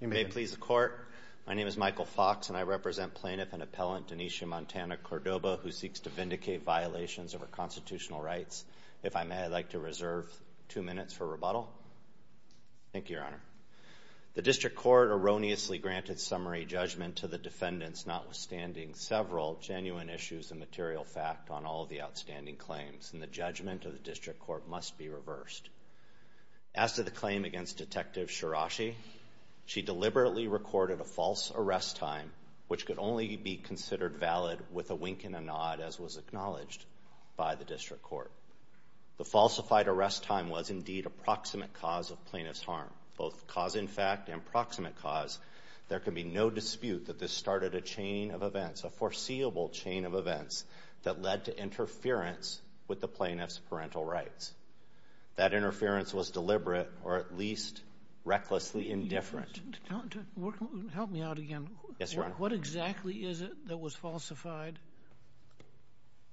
you may please the court. My name is Michael Fox and I represent plaintiff and appellant Daneshea Montana Cordoba, who seeks to vindicate violations of her constitutional rights. If I may, I'd like to reserve two minutes for rebuttal. Thank you, Your Honor. The district court erroneously granted summary judgment to the defendants, notwithstanding several genuine issues and material fact on all the outstanding claims in the judgment of the district court must be reversed. As to the claim against Detective Shirashi, she deliberately recorded a false arrest time, which could only be considered valid with a wink and a nod, as was acknowledged by the district court. The falsified arrest time was indeed approximate cause of plaintiff's harm, both cause in fact and proximate cause. There could be no dispute that this started a chain of events, a foreseeable chain of events that led to interference with the plaintiff's interference was deliberate or at least recklessly indifferent. Help me out again. Yes, Your Honor. What exactly is it that was falsified?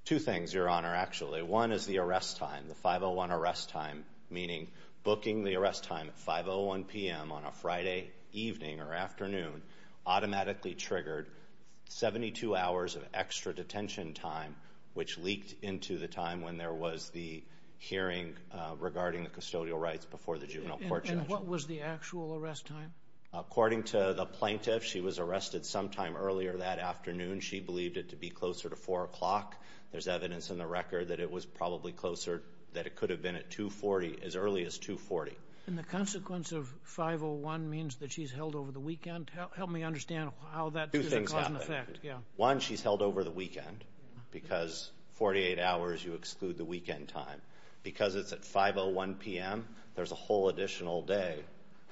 Two things, Your Honor. Actually, one is the arrest time. The 501 arrest time, meaning booking the arrest time 501 p.m. On a Friday evening or afternoon automatically triggered 72 hours of extra detention time, which was the actual arrest time. According to the plaintiff, she was arrested sometime earlier that afternoon. She believed it to be closer to four o'clock. There's evidence in the record that it was probably closer that it could have been at 2 40 as early as 2 40. And the consequence of 501 means that she's held over the weekend. Help me understand how that two things. One she's held over the weekend because 48 hours you exclude the weekend time because it's at 501 p.m. There's a whole additional day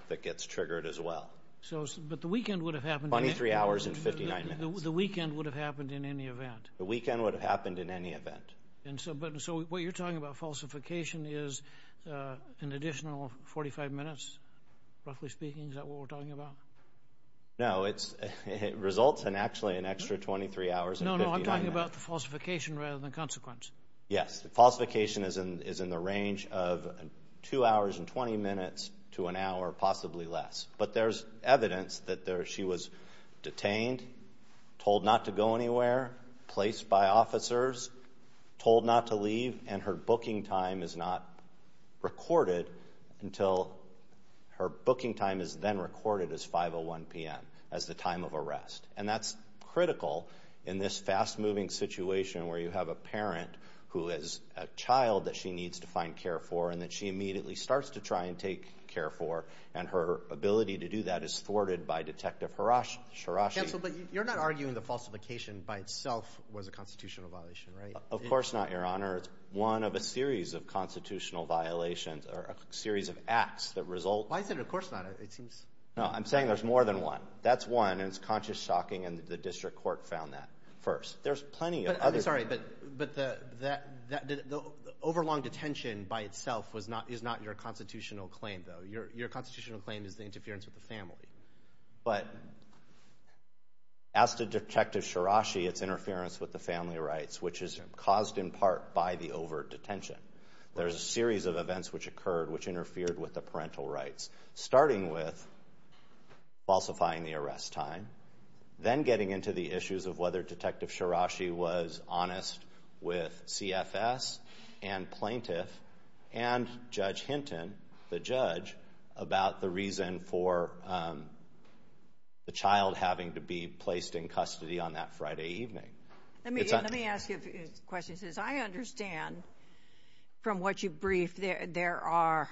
that gets triggered as well. So, but the weekend would have happened 23 hours and 59 minutes. The weekend would have happened in any event. The weekend would have happened in any event. And so, but so what you're talking about falsification is, uh, an additional 45 minutes. Roughly speaking, is that what we're talking about? No, it's results and actually an extra 23 hours. No, I'm talking about the falsification is in the range of two hours and 20 minutes to an hour, possibly less. But there's evidence that there she was detained, told not to go anywhere, placed by officers, told not to leave. And her booking time is not recorded until her booking time is then recorded as 501 p.m. as the time of arrest. And that's critical in this fast moving situation where you have a parent who is a child that she needs to find care for, and that she immediately starts to try and take care for. And her ability to do that is thwarted by Detective Harasher. Rashi, but you're not arguing the falsification by itself was a constitutional violation, right? Of course not, Your Honor. It's one of a series of constitutional violations or a series of acts that result. Why is it? Of course not. It seems no, I'm saying there's more than one. That's one. It's conscious, shocking, and the district court found that first. There's plenty of other. Sorry, but the overlong detention by itself is not your constitutional claim, though. Your constitutional claim is the interference with the family. But as to Detective Shirashi, it's interference with the family rights, which is caused in part by the overt detention. There's a series of events which occurred which interfered with the parental rights, starting with falsifying the arrest time, then getting into the issues of whether Detective Shirashi was honest with C. F. S. And plaintiff and Judge Hinton, the judge, about the reason for, um, the child having to be placed in custody on that Friday evening. Let me let me ask you questions. As I understand from what you briefed, there are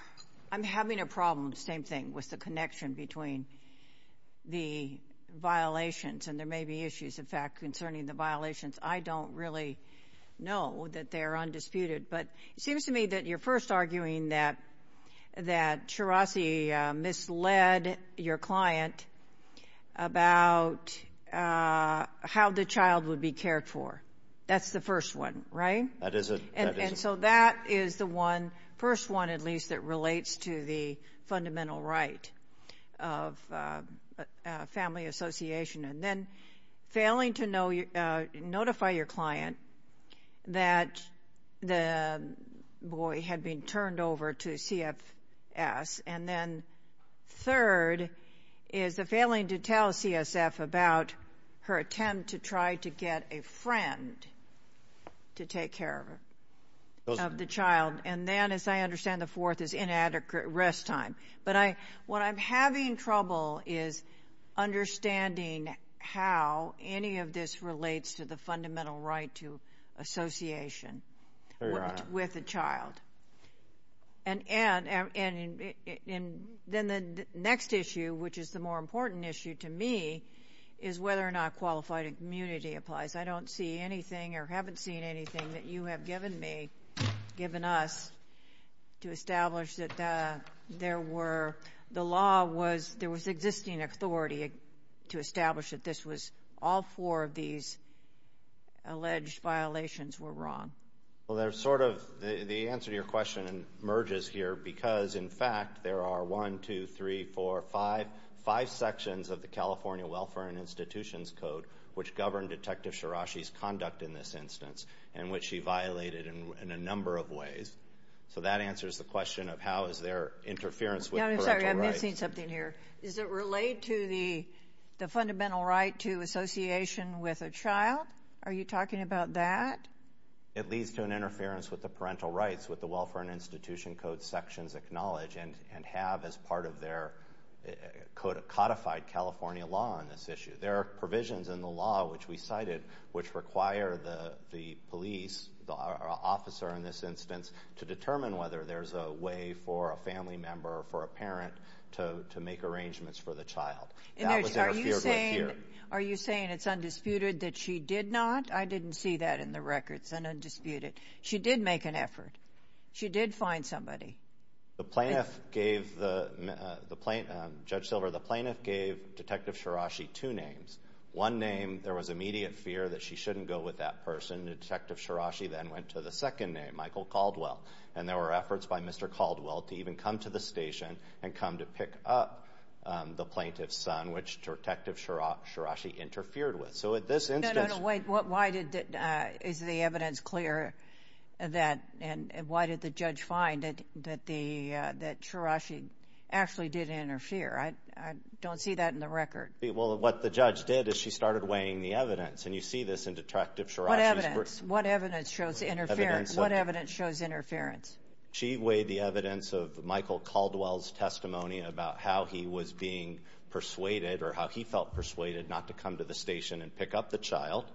I'm having a problem. Same thing with the connection between the violations. And there may be issues, in fact, concerning the violations. I don't really know that they're undisputed. But it seems to me that you're first arguing that that Shirashi misled your client about how the child would be cared for. That's the first one, right? That is it. And so that is the one first one, at least, that relates to the fundamental right of family association and then failing to notify your client that the boy had been turned over to C. F. S. And then third is the failing to tell C. S. F. About her attempt to try to get a child. And then the next issue, which is the more important issue to me, is whether or not qualified immunity applies. I don't see anything or haven't seen anything that you have given me, given us to establish that there were the law was there was existing authority to establish that this was all four of these alleged violations were wrong. Well, there's sort of the answer to your question and emerges here because, in fact, there are 123455 sections of the California Welfare and Institutions Code which governed Detective Shirashi's conduct in this instance in which he violated in a number of ways. So that answers the question of how is there interference with something here? Is it related to the fundamental right to association with a child? Are you talking about that? It leads to an interference with the parental rights with the Welfare and Institution Code sections acknowledge and have as part of their codified California law on this issue. There are provisions in the law which we cited which require the police officer in this instance to determine whether there's a way for a family member for a parent toe to make arrangements for the child. Are you saying it's undisputed that she did not? I didn't see that in the records and undisputed. She did make an effort. She did find somebody. The plaintiff gave the plate Judge Silver. The plaintiff gave Detective Shirashi two names. One name. There was immediate fear that she shouldn't go with that person. Detective Shirashi then went to the second name, Michael Caldwell, and there were efforts by Mr Caldwell to even come to the station and come to pick up the plaintiff's son, which Detective Shirashi interfered with. So at this instance, wait, why did is the evidence clear that? And why did the judge find it that the that Shirashi actually did interfere? I don't see that in the record. Well, what the judge did is she started weighing the evidence and you see this in detective. What evidence? What evidence shows interference? What evidence shows interference? She weighed the evidence of Michael Caldwell's testimony about how he was being persuaded or how he felt persuaded not to come to the station and pick up the child.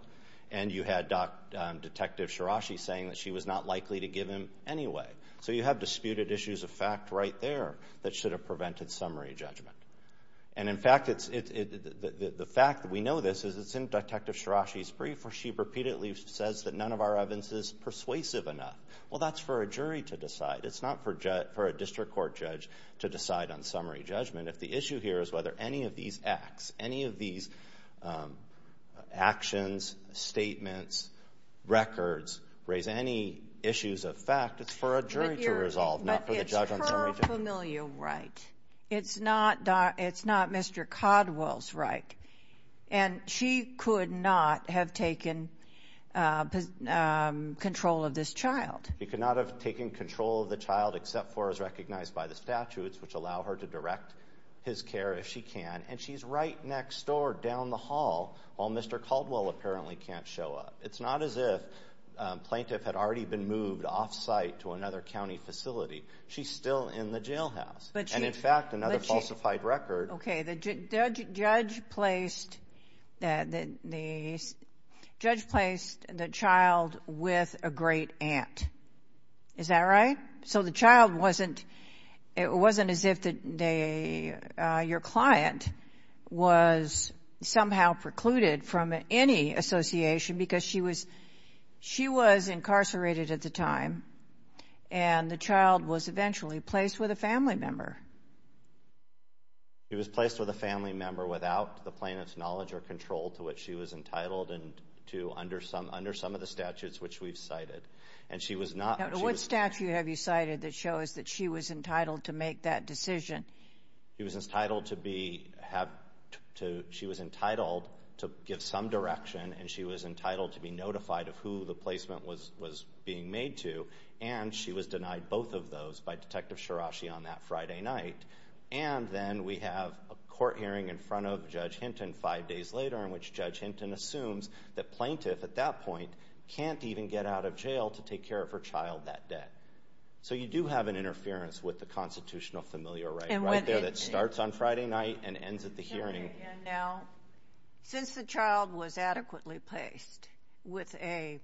And you had Dr Detective Shirashi saying that she was not likely to give him anyway. So you have disputed issues of fact right there that should have prevented summary judgment. And in fact, it's the fact that we know this is it's in Detective Shirashi's brief or she repeatedly says that none of our evidence is persuasive enough. Well, that's for a jury to decide. It's not for a district court judge to decide on summary judgment. If the issue here is whether any of these acts, any of these, um, actions, statements, records raise any issues of fact, it's for a jury to resolve, not it's not. It's not Mr Caldwell's right, and she could not have taken, uh, control of this child. You could not have taken control of the child except for is recognized by the statutes which allow her to direct his care if she can. And she's right next door down the hall. All Mr Caldwell apparently can't show up. It's not as if plaintiff had already been moved off site to another jailhouse. But in fact, another falsified record. Okay, the judge placed that the judge placed the child with a great aunt. Is that right? So the child wasn't. It wasn't as if the day your client was somehow precluded from any association because she was she was incarcerated at the time, and the child was eventually placed with a family member. He was placed with a family member without the plaintiff's knowledge or control to what she was entitled and to under some under some of the statutes which we've cited and she was not. What statue have you cited that shows that she was entitled to make that decision? He was entitled to be have to. She was entitled to give some direction, and she was entitled to be notified of who the both of those by Detective Shirashi on that Friday night. And then we have a court hearing in front of Judge Hinton five days later, in which Judge Hinton assumes that plaintiff at that point can't even get out of jail to take care of her child that debt. So you do have an interference with the constitutional familiar right there that starts on Friday night and ends at the hearing. Now, since the child was adequately placed with a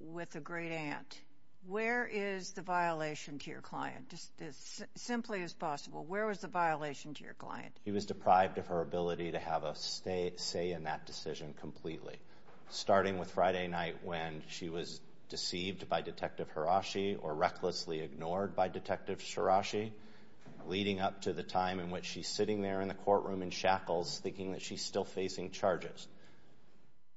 with a great-aunt, where is the violation to your client? Just as simply as possible, where was the violation to your client? He was deprived of her ability to have a say in that decision completely, starting with Friday night when she was deceived by Detective Hirashi or recklessly ignored by Detective Shirashi, leading up to the sitting there in the courtroom in shackles, thinking that she's still facing charges.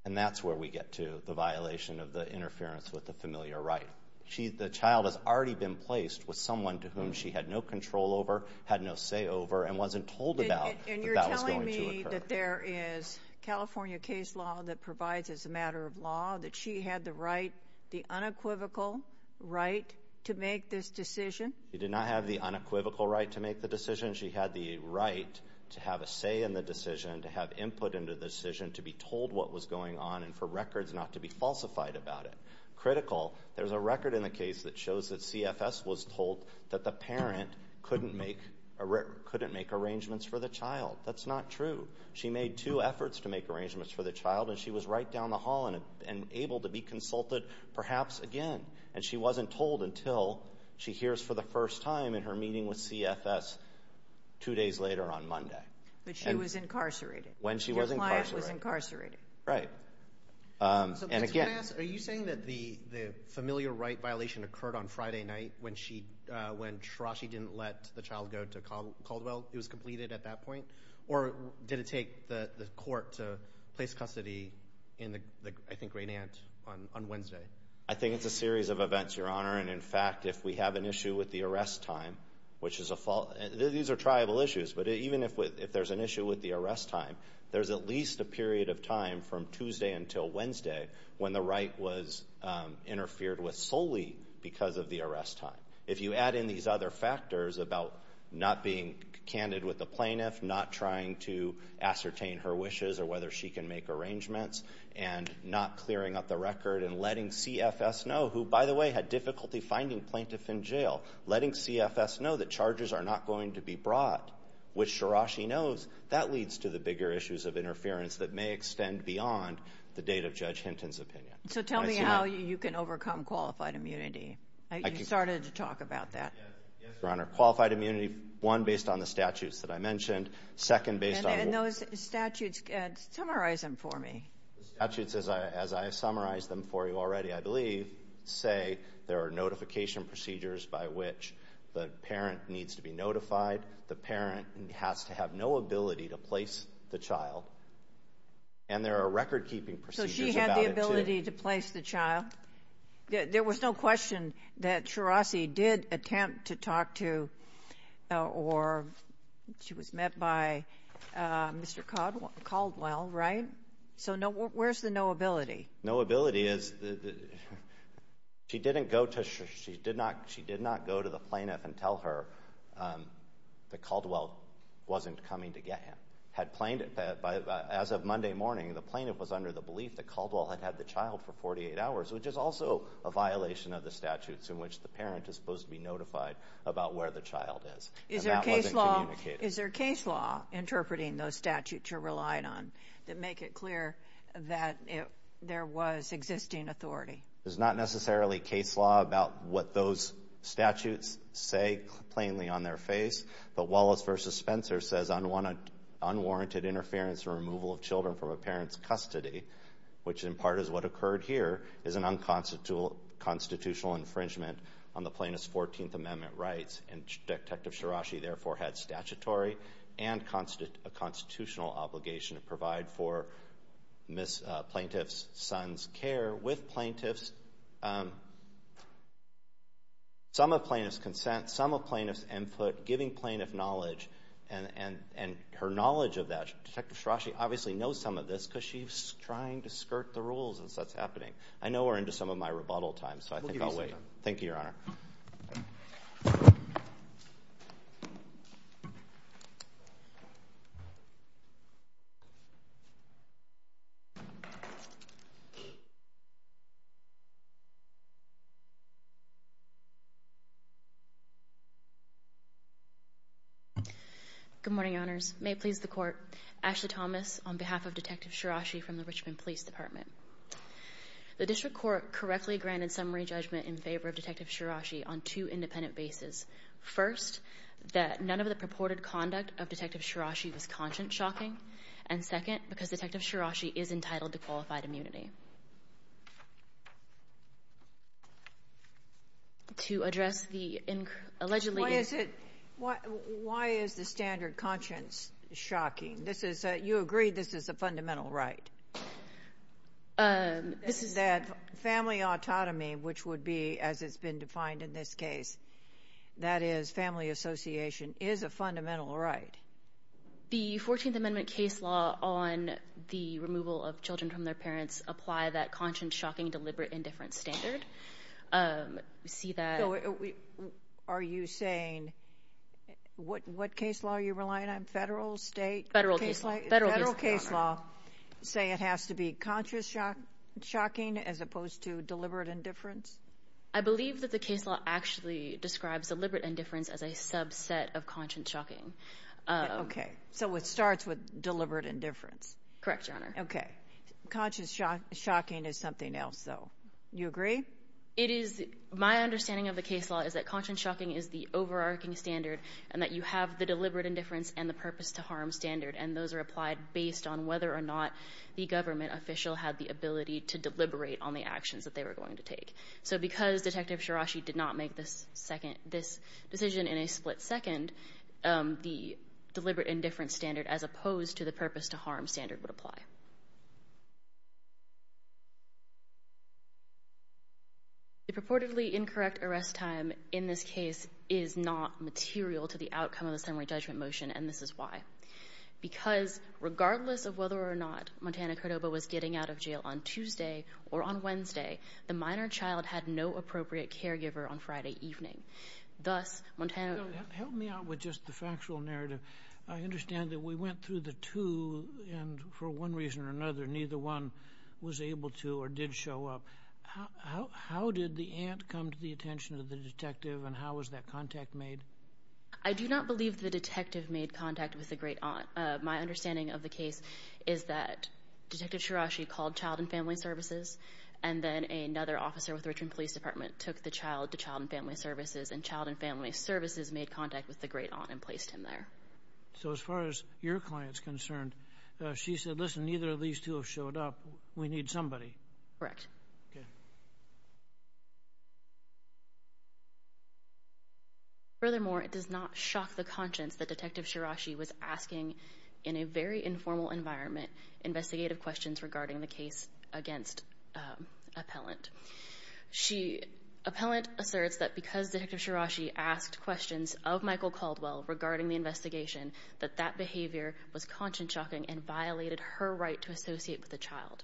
And that's where we get to the violation of the interference with the familiar right. She, the child, has already been placed with someone to whom she had no control over, had no say over, and wasn't told about. And you're telling me that there is California case law that provides as a matter of law that she had the right, the unequivocal right, to make this decision? She did not have the unequivocal right to make the decision. She had the right to have a say in the decision, to have input into the decision, to be told what was going on, and for records not to be falsified about it. Critical, there's a record in the case that shows that CFS was told that the parent couldn't make, couldn't make arrangements for the child. That's not true. She made two efforts to make arrangements for the child, and she was right down the hall and able to be consulted, perhaps again. And she wasn't told until she hears for the first time in her meeting with CFS two days later on Monday. But she was incarcerated? When she was incarcerated. Right. And again... Are you saying that the the familiar right violation occurred on Friday night when she, when Shirashi didn't let the child go to Caldwell? It was completed at that point? Or did it take the court to place custody in the, I think, great aunt on Wednesday? I think it's a series of which is a fault. These are tribal issues, but even if there's an issue with the arrest time, there's at least a period of time from Tuesday until Wednesday when the right was interfered with solely because of the arrest time. If you add in these other factors about not being candid with the plaintiff, not trying to ascertain her wishes or whether she can make arrangements, and not clearing up the record, and letting CFS know, who by the way had difficulty finding plaintiff in jail, letting CFS know that charges are not going to be brought, which Shirashi knows, that leads to the bigger issues of interference that may extend beyond the date of Judge Hinton's opinion. So tell me how you can overcome qualified immunity. You started to talk about that. Yes, Your Honor. Qualified immunity, one, based on the statutes that I mentioned. Second, based on... And those statutes, summarize them for me. The statutes, as I as I have summarized them for you already, I believe, say there are notification procedures by which the parent needs to be notified. The parent has to have no ability to place the child. And there are record keeping procedures. So she had the ability to place the child? There was no question that Shirashi did attempt to talk to, or she was met by Mr. Caldwell, right? So where's the no ability? No ability is, she didn't go to, she did not, she did not go to the plaintiff and tell her that Caldwell wasn't coming to get him. Had plaintiff, as of Monday morning, the plaintiff was under the belief that Caldwell had had the child for 48 hours, which is also a violation of the statutes in which the parent is supposed to be notified about where the child is. Is there case law, is there case law interpreting those statutes you're relying on, that make it clear that if there was existing authority? There's not necessarily case law about what those statutes say plainly on their face. But Wallace v. Spencer says unwarranted interference or removal of children from a parent's custody, which in part is what occurred here, is an unconstitutional infringement on the plaintiff's 14th Amendment rights. And Detective Shirashi therefore had statutory and constitutional obligation to provide for plaintiff's son's care with plaintiff's, some of plaintiff's consent, some of plaintiff's input, giving plaintiff knowledge and her knowledge of that. Detective Shirashi obviously knows some of this because she's trying to skirt the rules as that's happening. I know we're into some of my rebuttal time, so I think I'll wait. Thank you, Your Honor. Good morning, Your Honors. May it please the Court, Ashley Thomas on behalf of Detective Shirashi from the Richmond Police Department. The District Court correctly granted summary judgment in favor of Detective Shirashi on two independent bases. First, that none of the purported conduct of Detective Shirashi was conscience-shocking. And second, because Detective Shirashi is entitled to address the allegedly... Why is it, why is the standard conscience-shocking? This is, you agree this is a fundamental right? This is... That family autonomy, which would be as it's been defined in this case, that is family association, is a fundamental right. The 14th Amendment case law on the removal of children from their parents apply that conscience-shocking deliberate indifference standard. We see that... Are you saying, what case law are you relying on? Federal, state? Federal case law. Federal case law. Say it has to be conscience-shocking as opposed to deliberate indifference? I believe that the case law actually describes deliberate indifference as a subset of conscience-shocking. Okay, so it starts with deliberate indifference. Correct, Your Honor. Okay, conscience- shocking is something else, though. You agree? It is. My understanding of the case law is that conscience-shocking is the overarching standard and that you have the deliberate indifference and the purpose to harm standard and those are applied based on whether or not the government official had the ability to deliberate on the actions that they were going to take. So because Detective Shirashi did not make this second, this decision in a split second, the deliberate indifference standard as opposed to the purpose to harm standard would apply. The purportedly incorrect arrest time in this case is not material to the outcome of the summary judgment motion and this is why. Because regardless of whether or not Montana Cordova was getting out of jail on Tuesday or on Wednesday, the minor child had no appropriate caregiver on Friday evening. Thus, Montana... Help me out with just the factual narrative. I understand that we went through the two and for one reason or another neither one was able to or did show up. How did the aunt come to the attention of the detective and how was that contact made? I do not believe the detective made contact with the great aunt. My understanding of the case is that Detective Shirashi called Child and Family Services and then another officer with the Richmond Police Department took the child to Child and Family Services and Child and Family Services made contact with the great aunt and placed him there. So as far as your client's concerned, she said, listen, neither of these two have showed up. We need somebody. Correct. Furthermore, it does not shock the conscience that Detective Shirashi was asking, in a very informal environment, investigative questions regarding the case against appellant. Appellant asserts that because Detective Shirashi asked questions of Michael Caldwell regarding the investigation, that that behavior was conscience-shocking and violated her right to associate with the child.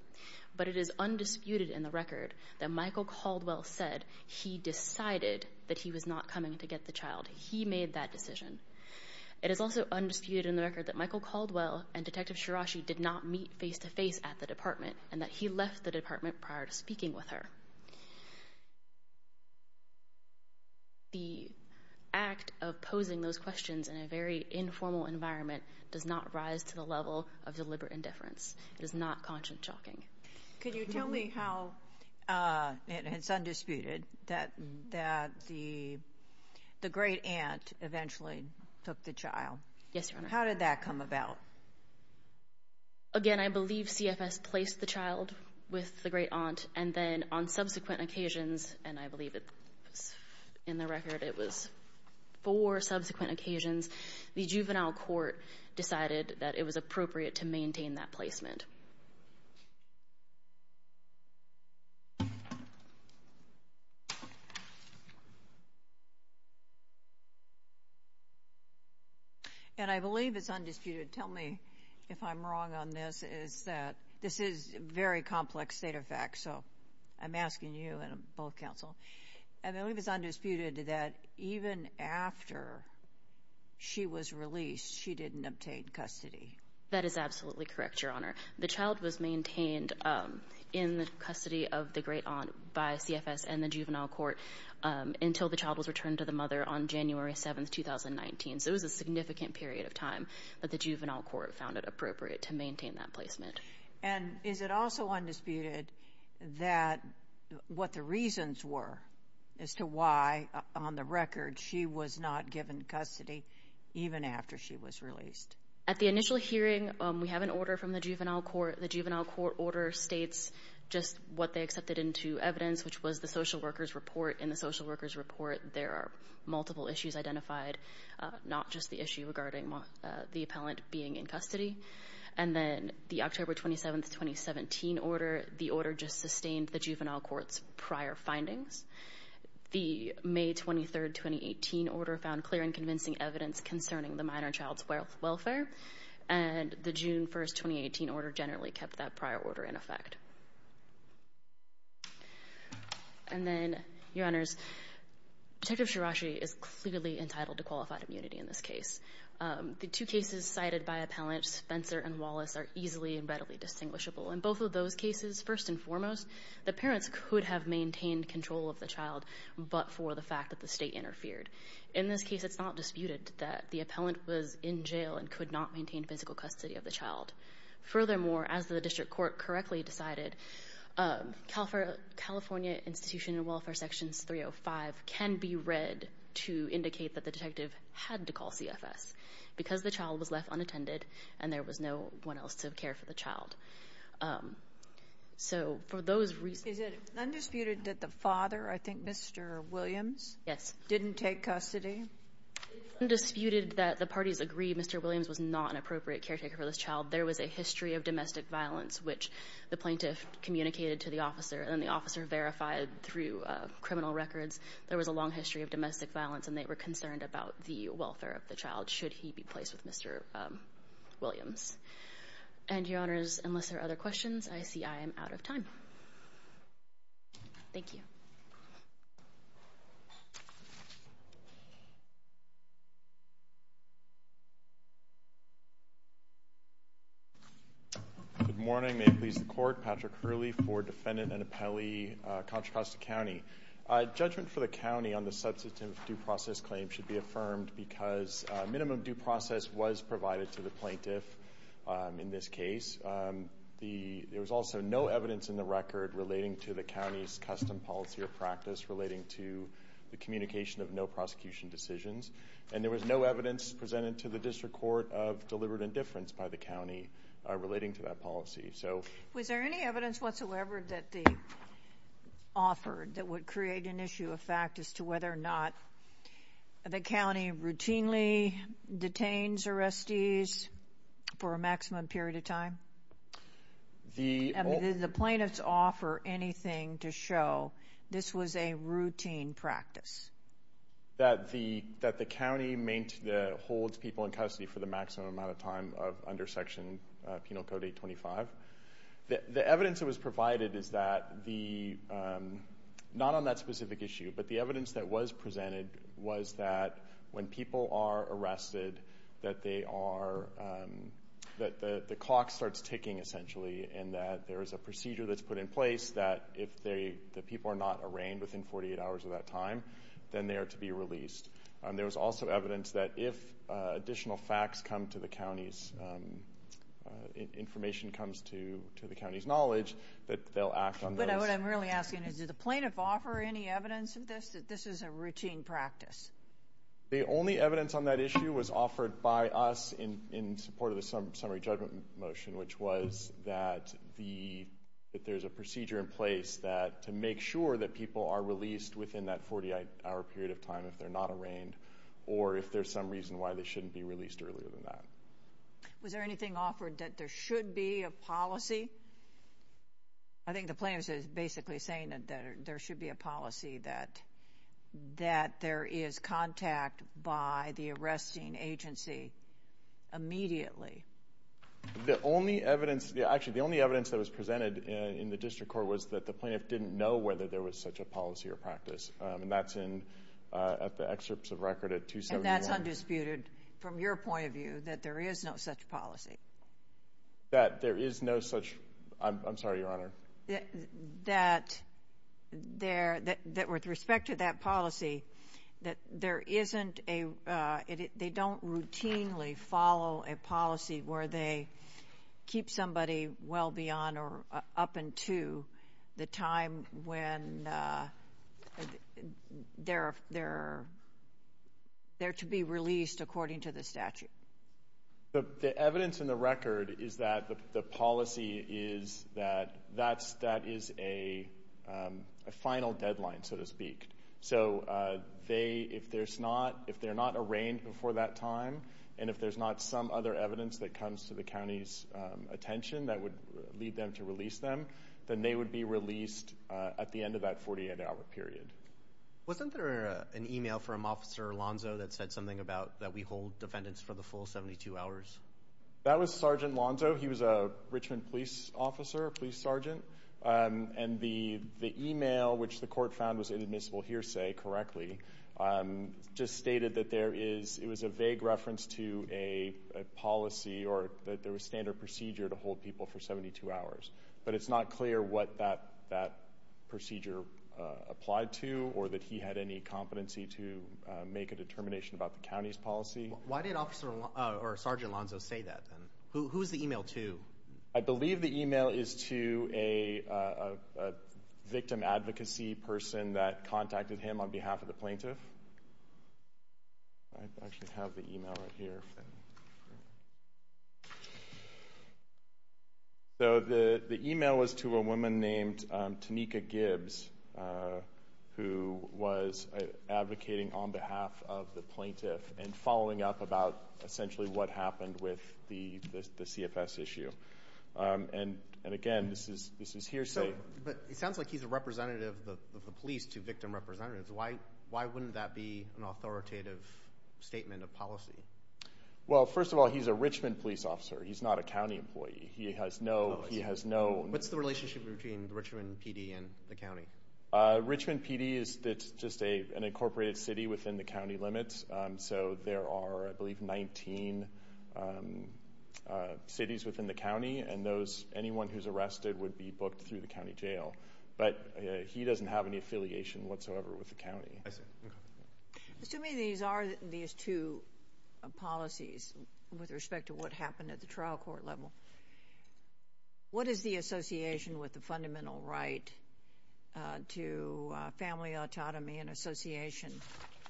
But it is undisputed in the record that Michael Caldwell said he decided that he was not coming to get the child. He made that decision. It is also undisputed in the record that Michael Caldwell and Detective Shirashi did not meet face-to-face at the department and that he left the department prior to the act of posing those questions in a very informal environment does not rise to the level of deliberate indifference. It is not conscience-shocking. Can you tell me how, and it's undisputed, that the great aunt eventually took the child? Yes, Your Honor. How did that come about? Again, I believe CFS placed the child with the great aunt and then on subsequent occasions, and I believe it was in the record it was four subsequent occasions, the juvenile court decided that it was appropriate to maintain that placement. And I believe it's undisputed. Tell me if I'm wrong on this is that this is a very I believe it's undisputed that even after she was released, she didn't obtain custody. That is absolutely correct, Your Honor. The child was maintained in the custody of the great aunt by CFS and the juvenile court until the child was returned to the mother on January 7th, 2019. So it was a significant period of time that the juvenile court found it appropriate to as to why, on the record, she was not given custody even after she was released. At the initial hearing, we have an order from the juvenile court. The juvenile court order states just what they accepted into evidence, which was the social workers report. In the social workers report, there are multiple issues identified, not just the issue regarding the appellant being in custody. And then the October 27th, 2017 order, the order just sustained the the May 23rd, 2018 order found clear and convincing evidence concerning the minor child's welfare. And the June 1st, 2018 order generally kept that prior order in effect. And then, Your Honors, Detective Shirashi is clearly entitled to qualified immunity in this case. The two cases cited by appellants, Spencer and Wallace, are easily and readily distinguishable. In both of those cases, first and foremost, the parents could have maintained control of the child, but for the fact that the state interfered. In this case, it's not disputed that the appellant was in jail and could not maintain physical custody of the child. Furthermore, as the district court correctly decided, California Institution of Welfare Sections 305 can be read to indicate that the detective had to call CFS because the child was left unattended and there was no one else to care for the child. So, for those reasons... Is it undisputed that the father, I think, Mr. Williams... Yes. ...didn't take custody? It is undisputed that the parties agree Mr. Williams was not an appropriate caretaker for this child. There was a history of domestic violence, which the plaintiff communicated to the officer and the officer verified through criminal records. There was a long history of domestic violence and they were concerned about the welfare of the child, should he be placed with Mr. Williams. And, Your Honors, unless there are other questions, I see I am out of time. Thank you. Good morning. May it please the court. Patrick Hurley for Defendant and Appellee, Contra Costa County. Judgment for the county on the substantive due process claim should be affirmed because minimum due process was provided to the plaintiff in this case. There was also no evidence in the record relating to the county's custom policy or practice relating to the communication of no prosecution decisions. And there was no evidence presented to the district court of deliberate indifference by the county relating to that policy. Was there any evidence whatsoever that they offered that would create an issue of fact as to whether or not the county routinely detains arrestees for a maximum period of time? Did the plaintiffs offer anything to show this was a routine practice? That the county holds people in custody for the maximum amount of time under Section Penal Code 825. The evidence that was provided is that the, not on that specific issue, but the evidence that was when people are arrested that they are that the clock starts ticking essentially and that there is a procedure that's put in place that if the people are not arraigned within 48 hours of that time, then they are to be released. There was also evidence that if additional facts come to the county's information comes to the county's knowledge that they'll act on those. But what I'm really asking is did the plaintiff offer any evidence of this that this is a routine practice? The only evidence on that issue was offered by us in support of the summary judgment motion, which was that there's a procedure in place to make sure that people are released within that 48 hour period of time if they're not arraigned or if there's some reason why they shouldn't be released earlier than that. Was there anything offered that there should be a policy? I think the plaintiff is basically saying that there should be a policy that there is contact by the arresting agency immediately. The only evidence, actually the only evidence that was presented in the district court was that the plaintiff didn't know whether there was such a policy or practice. That's in the excerpts of record at 271. And that's undisputed from your point of view that there is no such policy? That there is no such, I'm sorry Your Honor. That there, that with respect to that policy, that there isn't a they don't routinely follow a policy where they keep somebody well beyond or up until the time when they're to be released according to the statute. The evidence in the record is that the policy is that, that is a final deadline so to speak. So they, if there's not if they're not arraigned before that time and if there's not some other evidence that comes to the county's attention that would lead them to release them, then they would be released at the end of that 48 hour period. Wasn't there an email from Officer Alonzo that said something about that we hold defendants for the full 72 hours? That was Sergeant Alonzo. He was a Richmond police officer police sergeant. And the email which the court found was inadmissible hearsay correctly just stated that there is, it was a vague reference to a policy or that there was standard procedure to hold people for 72 hours. But it's not clear what that procedure applied to or that he had any competency to make a determination about the county's policy. Why did Officer or Sergeant Alonzo say that then? Who is the email to? I believe the email is to a victim advocacy person that contacted him on behalf of the plaintiff. I actually have the email right here. So the email was to a woman named Tanika Gibbs who was advocating on behalf of the plaintiff and following up about essentially what happened with the CFS issue. And again this is hearsay. But it sounds like he's a representative of the police to victim representatives. Why wouldn't that be an authoritative statement of policy? Well, first of all, he's a Richmond police officer. He's not a county employee. He has no... What's the relationship between Richmond PD and the county? Richmond PD is just an incorporated city within the county limits. So there are I believe 19 cities within the county. And anyone who's arrested would be booked through the county jail. But he doesn't have any affiliation whatsoever with the county. Assuming these are these two policies with respect to what happened at the trial court level, what is the association with the fundamental right to family autonomy and association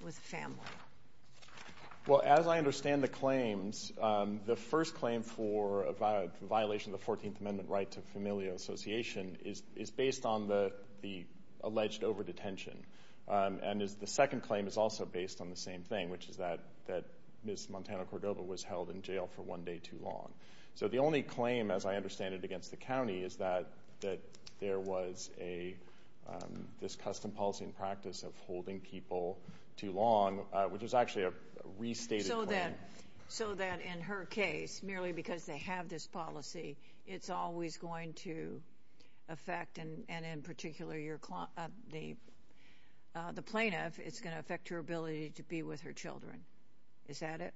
with family? Well, as I understand the claims the first claim for a violation of the 14th Amendment right to familial association is based on the alleged over-detention. And the second claim is also based on the same thing, which is that Ms. Montana Cordova was held in jail for one day too long. So the only claim as I understand it against the county is that there was this custom policy and practice of holding people too long, which is actually a restated claim. So that in her case, merely because they have this policy, it's always going to affect and in particular the plaintiff it's going to affect her ability to be with her children. Is that it?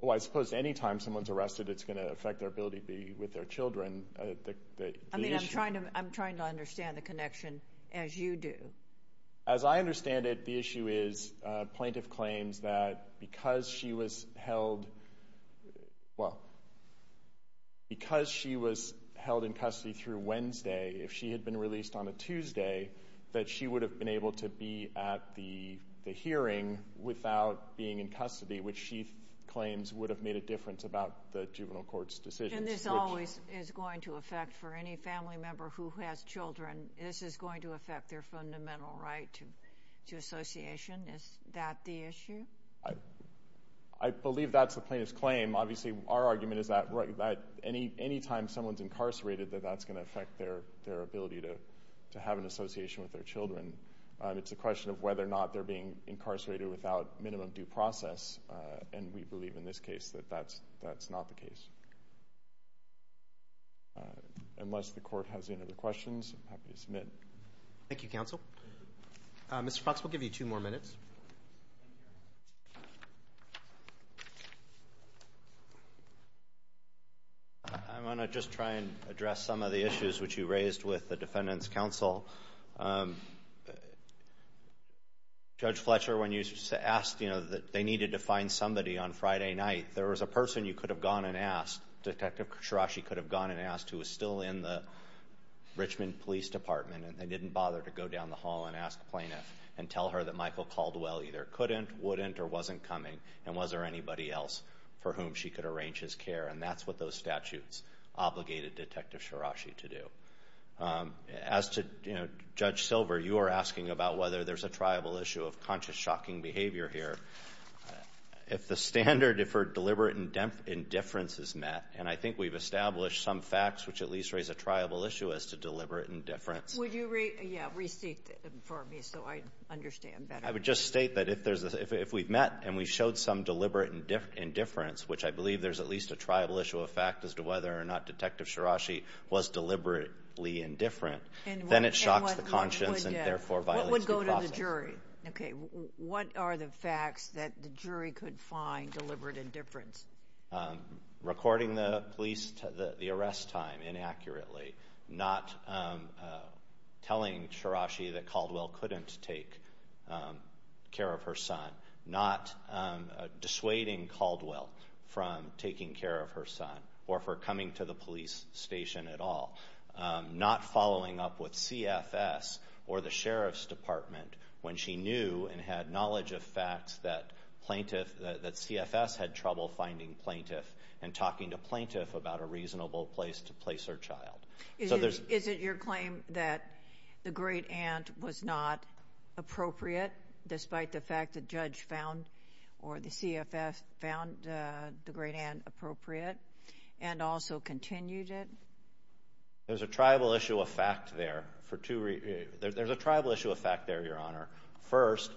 Well, I suppose any time someone's arrested it's going to affect their ability to be with their children. I mean, I'm trying to understand the connection as you do. As I understand it the issue is plaintiff claims that because she was held, well, because she was held in custody through Wednesday, if she had been released on a Tuesday that she would have been able to be at the hearing without being in custody, which she claims would have made a difference about the juvenile court's decisions. And this always is going to affect for any family member who has children, this is going to affect their fundamental right to association. Is that the issue? I believe that's the plaintiff's claim. Obviously, our argument is that any time someone's incarcerated that that's going to affect their ability to have an association with their children. It's a question of whether or not they're being incarcerated without minimum due process and we believe in this case that that's not the case. Unless the Court has any other questions I'm happy to submit. Thank you, Counsel. Mr. Fox, we'll give you two more minutes. I want to just try and address some of the issues which you raised with the Defendant's Counsel. Judge Fletcher, when you asked that they needed to find somebody on Friday night, there was a person you could have gone and asked. Detective Shirashi could have gone and asked who was still in the Richmond Police Department and they didn't bother to go down the hall and ask the plaintiff and tell her that Michael Caldwell either couldn't, wouldn't, or wasn't coming and was there anybody else for whom she could arrange his care and that's what those statutes obligated Detective Shirashi to do. As to Judge Silver, you were asking about whether there's a triable issue of conscious shocking behavior here. If the standard for deliberate indifference is met, and I think we've established some facts which at least raise a triable issue as to deliberate indifference Would you restate that for me so I understand better? I would just state that if we've met and we've showed some deliberate indifference which I believe there's at least a triable issue of fact as to whether or not Detective Shirashi was deliberately indifferent, then it shocks the conscience and therefore violates due process. What would go to the jury? What are the facts that the jury could find deliberate indifference? Recording the arrest time inaccurately not telling Shirashi that Caldwell couldn't take care of her son, not dissuading Caldwell from taking care of her son or for coming to the police station at all, not following up with CFS or the Sheriff's Department when she knew and had knowledge of facts that plaintiff, that CFS had trouble finding plaintiff and talking to plaintiff about a reasonable place to place her child. Is it your claim that the Great Aunt was not appropriate despite the fact the judge found or the CFS found the Great Aunt appropriate and also continued it? There's a triable issue of fact there. There's a triable issue of fact there, Your Honor. First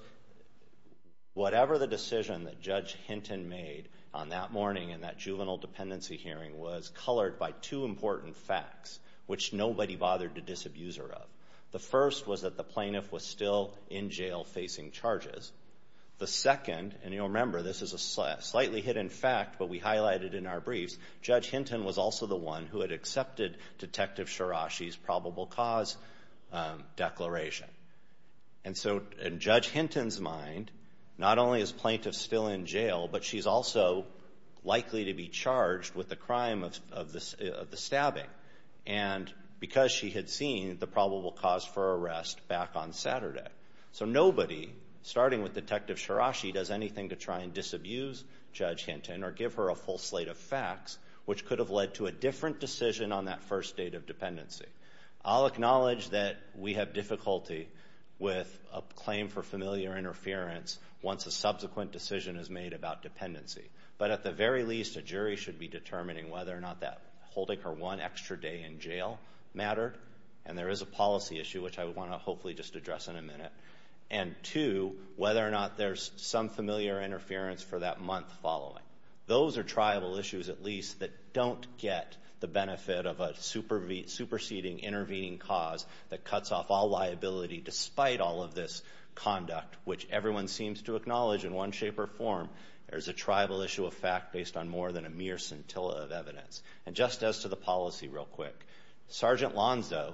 whatever the decision that Judge Hinton made on that morning in that juvenile dependency hearing was colored by two important facts which nobody bothered to disabuse her of. The first was that the plaintiff was still in jail facing charges. The second and you'll remember this is a slightly hidden fact but we highlighted in our briefs Judge Hinton was also the one who had accepted Detective Shirashi's probable cause declaration. And so in Judge Hinton's mind, not only is plaintiff still in jail but she's also likely to be charged with the crime of the stabbing. And because she had seen the probable cause for arrest back on Saturday. So nobody starting with Detective Shirashi does anything to try and disabuse Judge Hinton or give her a full slate of facts which could have led to a different decision on that first date of dependency. I'll acknowledge that we have difficulty with a claim for familiar interference once a subsequent decision is made about dependency. But at the very least a jury should be determining whether or not that holding her one extra day in jail mattered. And there is a policy issue which I want to hopefully just address in a minute. And two, whether or not there's some familiar interference for that month following. Those are tribal issues at least that don't get the benefit of a superseding intervening cause that cuts off all liability despite all of this conduct which everyone seems to acknowledge in one shape or form there's a tribal issue of fact based on more than a mere scintilla of evidence. And just as to the policy real quick, Sergeant Lonzo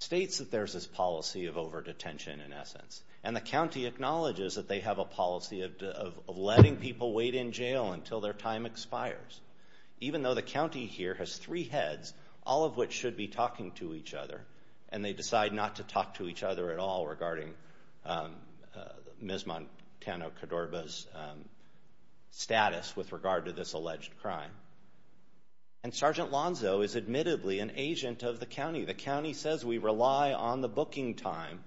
states that there's this policy of over-detention in essence. And the county acknowledges that they have a policy of letting people wait in jail until their time expires. Even though the county here has three heads, all of which should be talking to each other and they decide not to talk to each other at all regarding Ms. Montano-Cadorba's status with regard to this alleged crime. And Sergeant Lonzo is admittedly an agent of the county. The county says we rely on the booking time.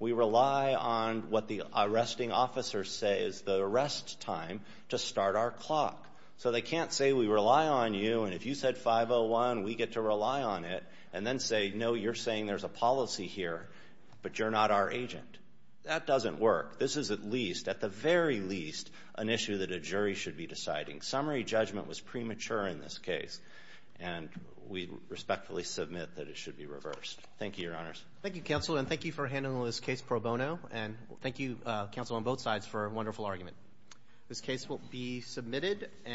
We rely on what the arresting officers say is the arrest time to start our clock. So they can't say we rely on you and if you said 5-0-1 we get to rely on it and then say no you're saying there's a policy here but you're not our agent. That doesn't work. This is at least, at the very least an issue that a jury should be deciding. Summary judgment was premature in this case. And we respectfully submit that it should be reversed. Thank you your honors. Thank you counsel and thank you for handling this case pro bono. And thank you counsel on both sides for a wonderful argument.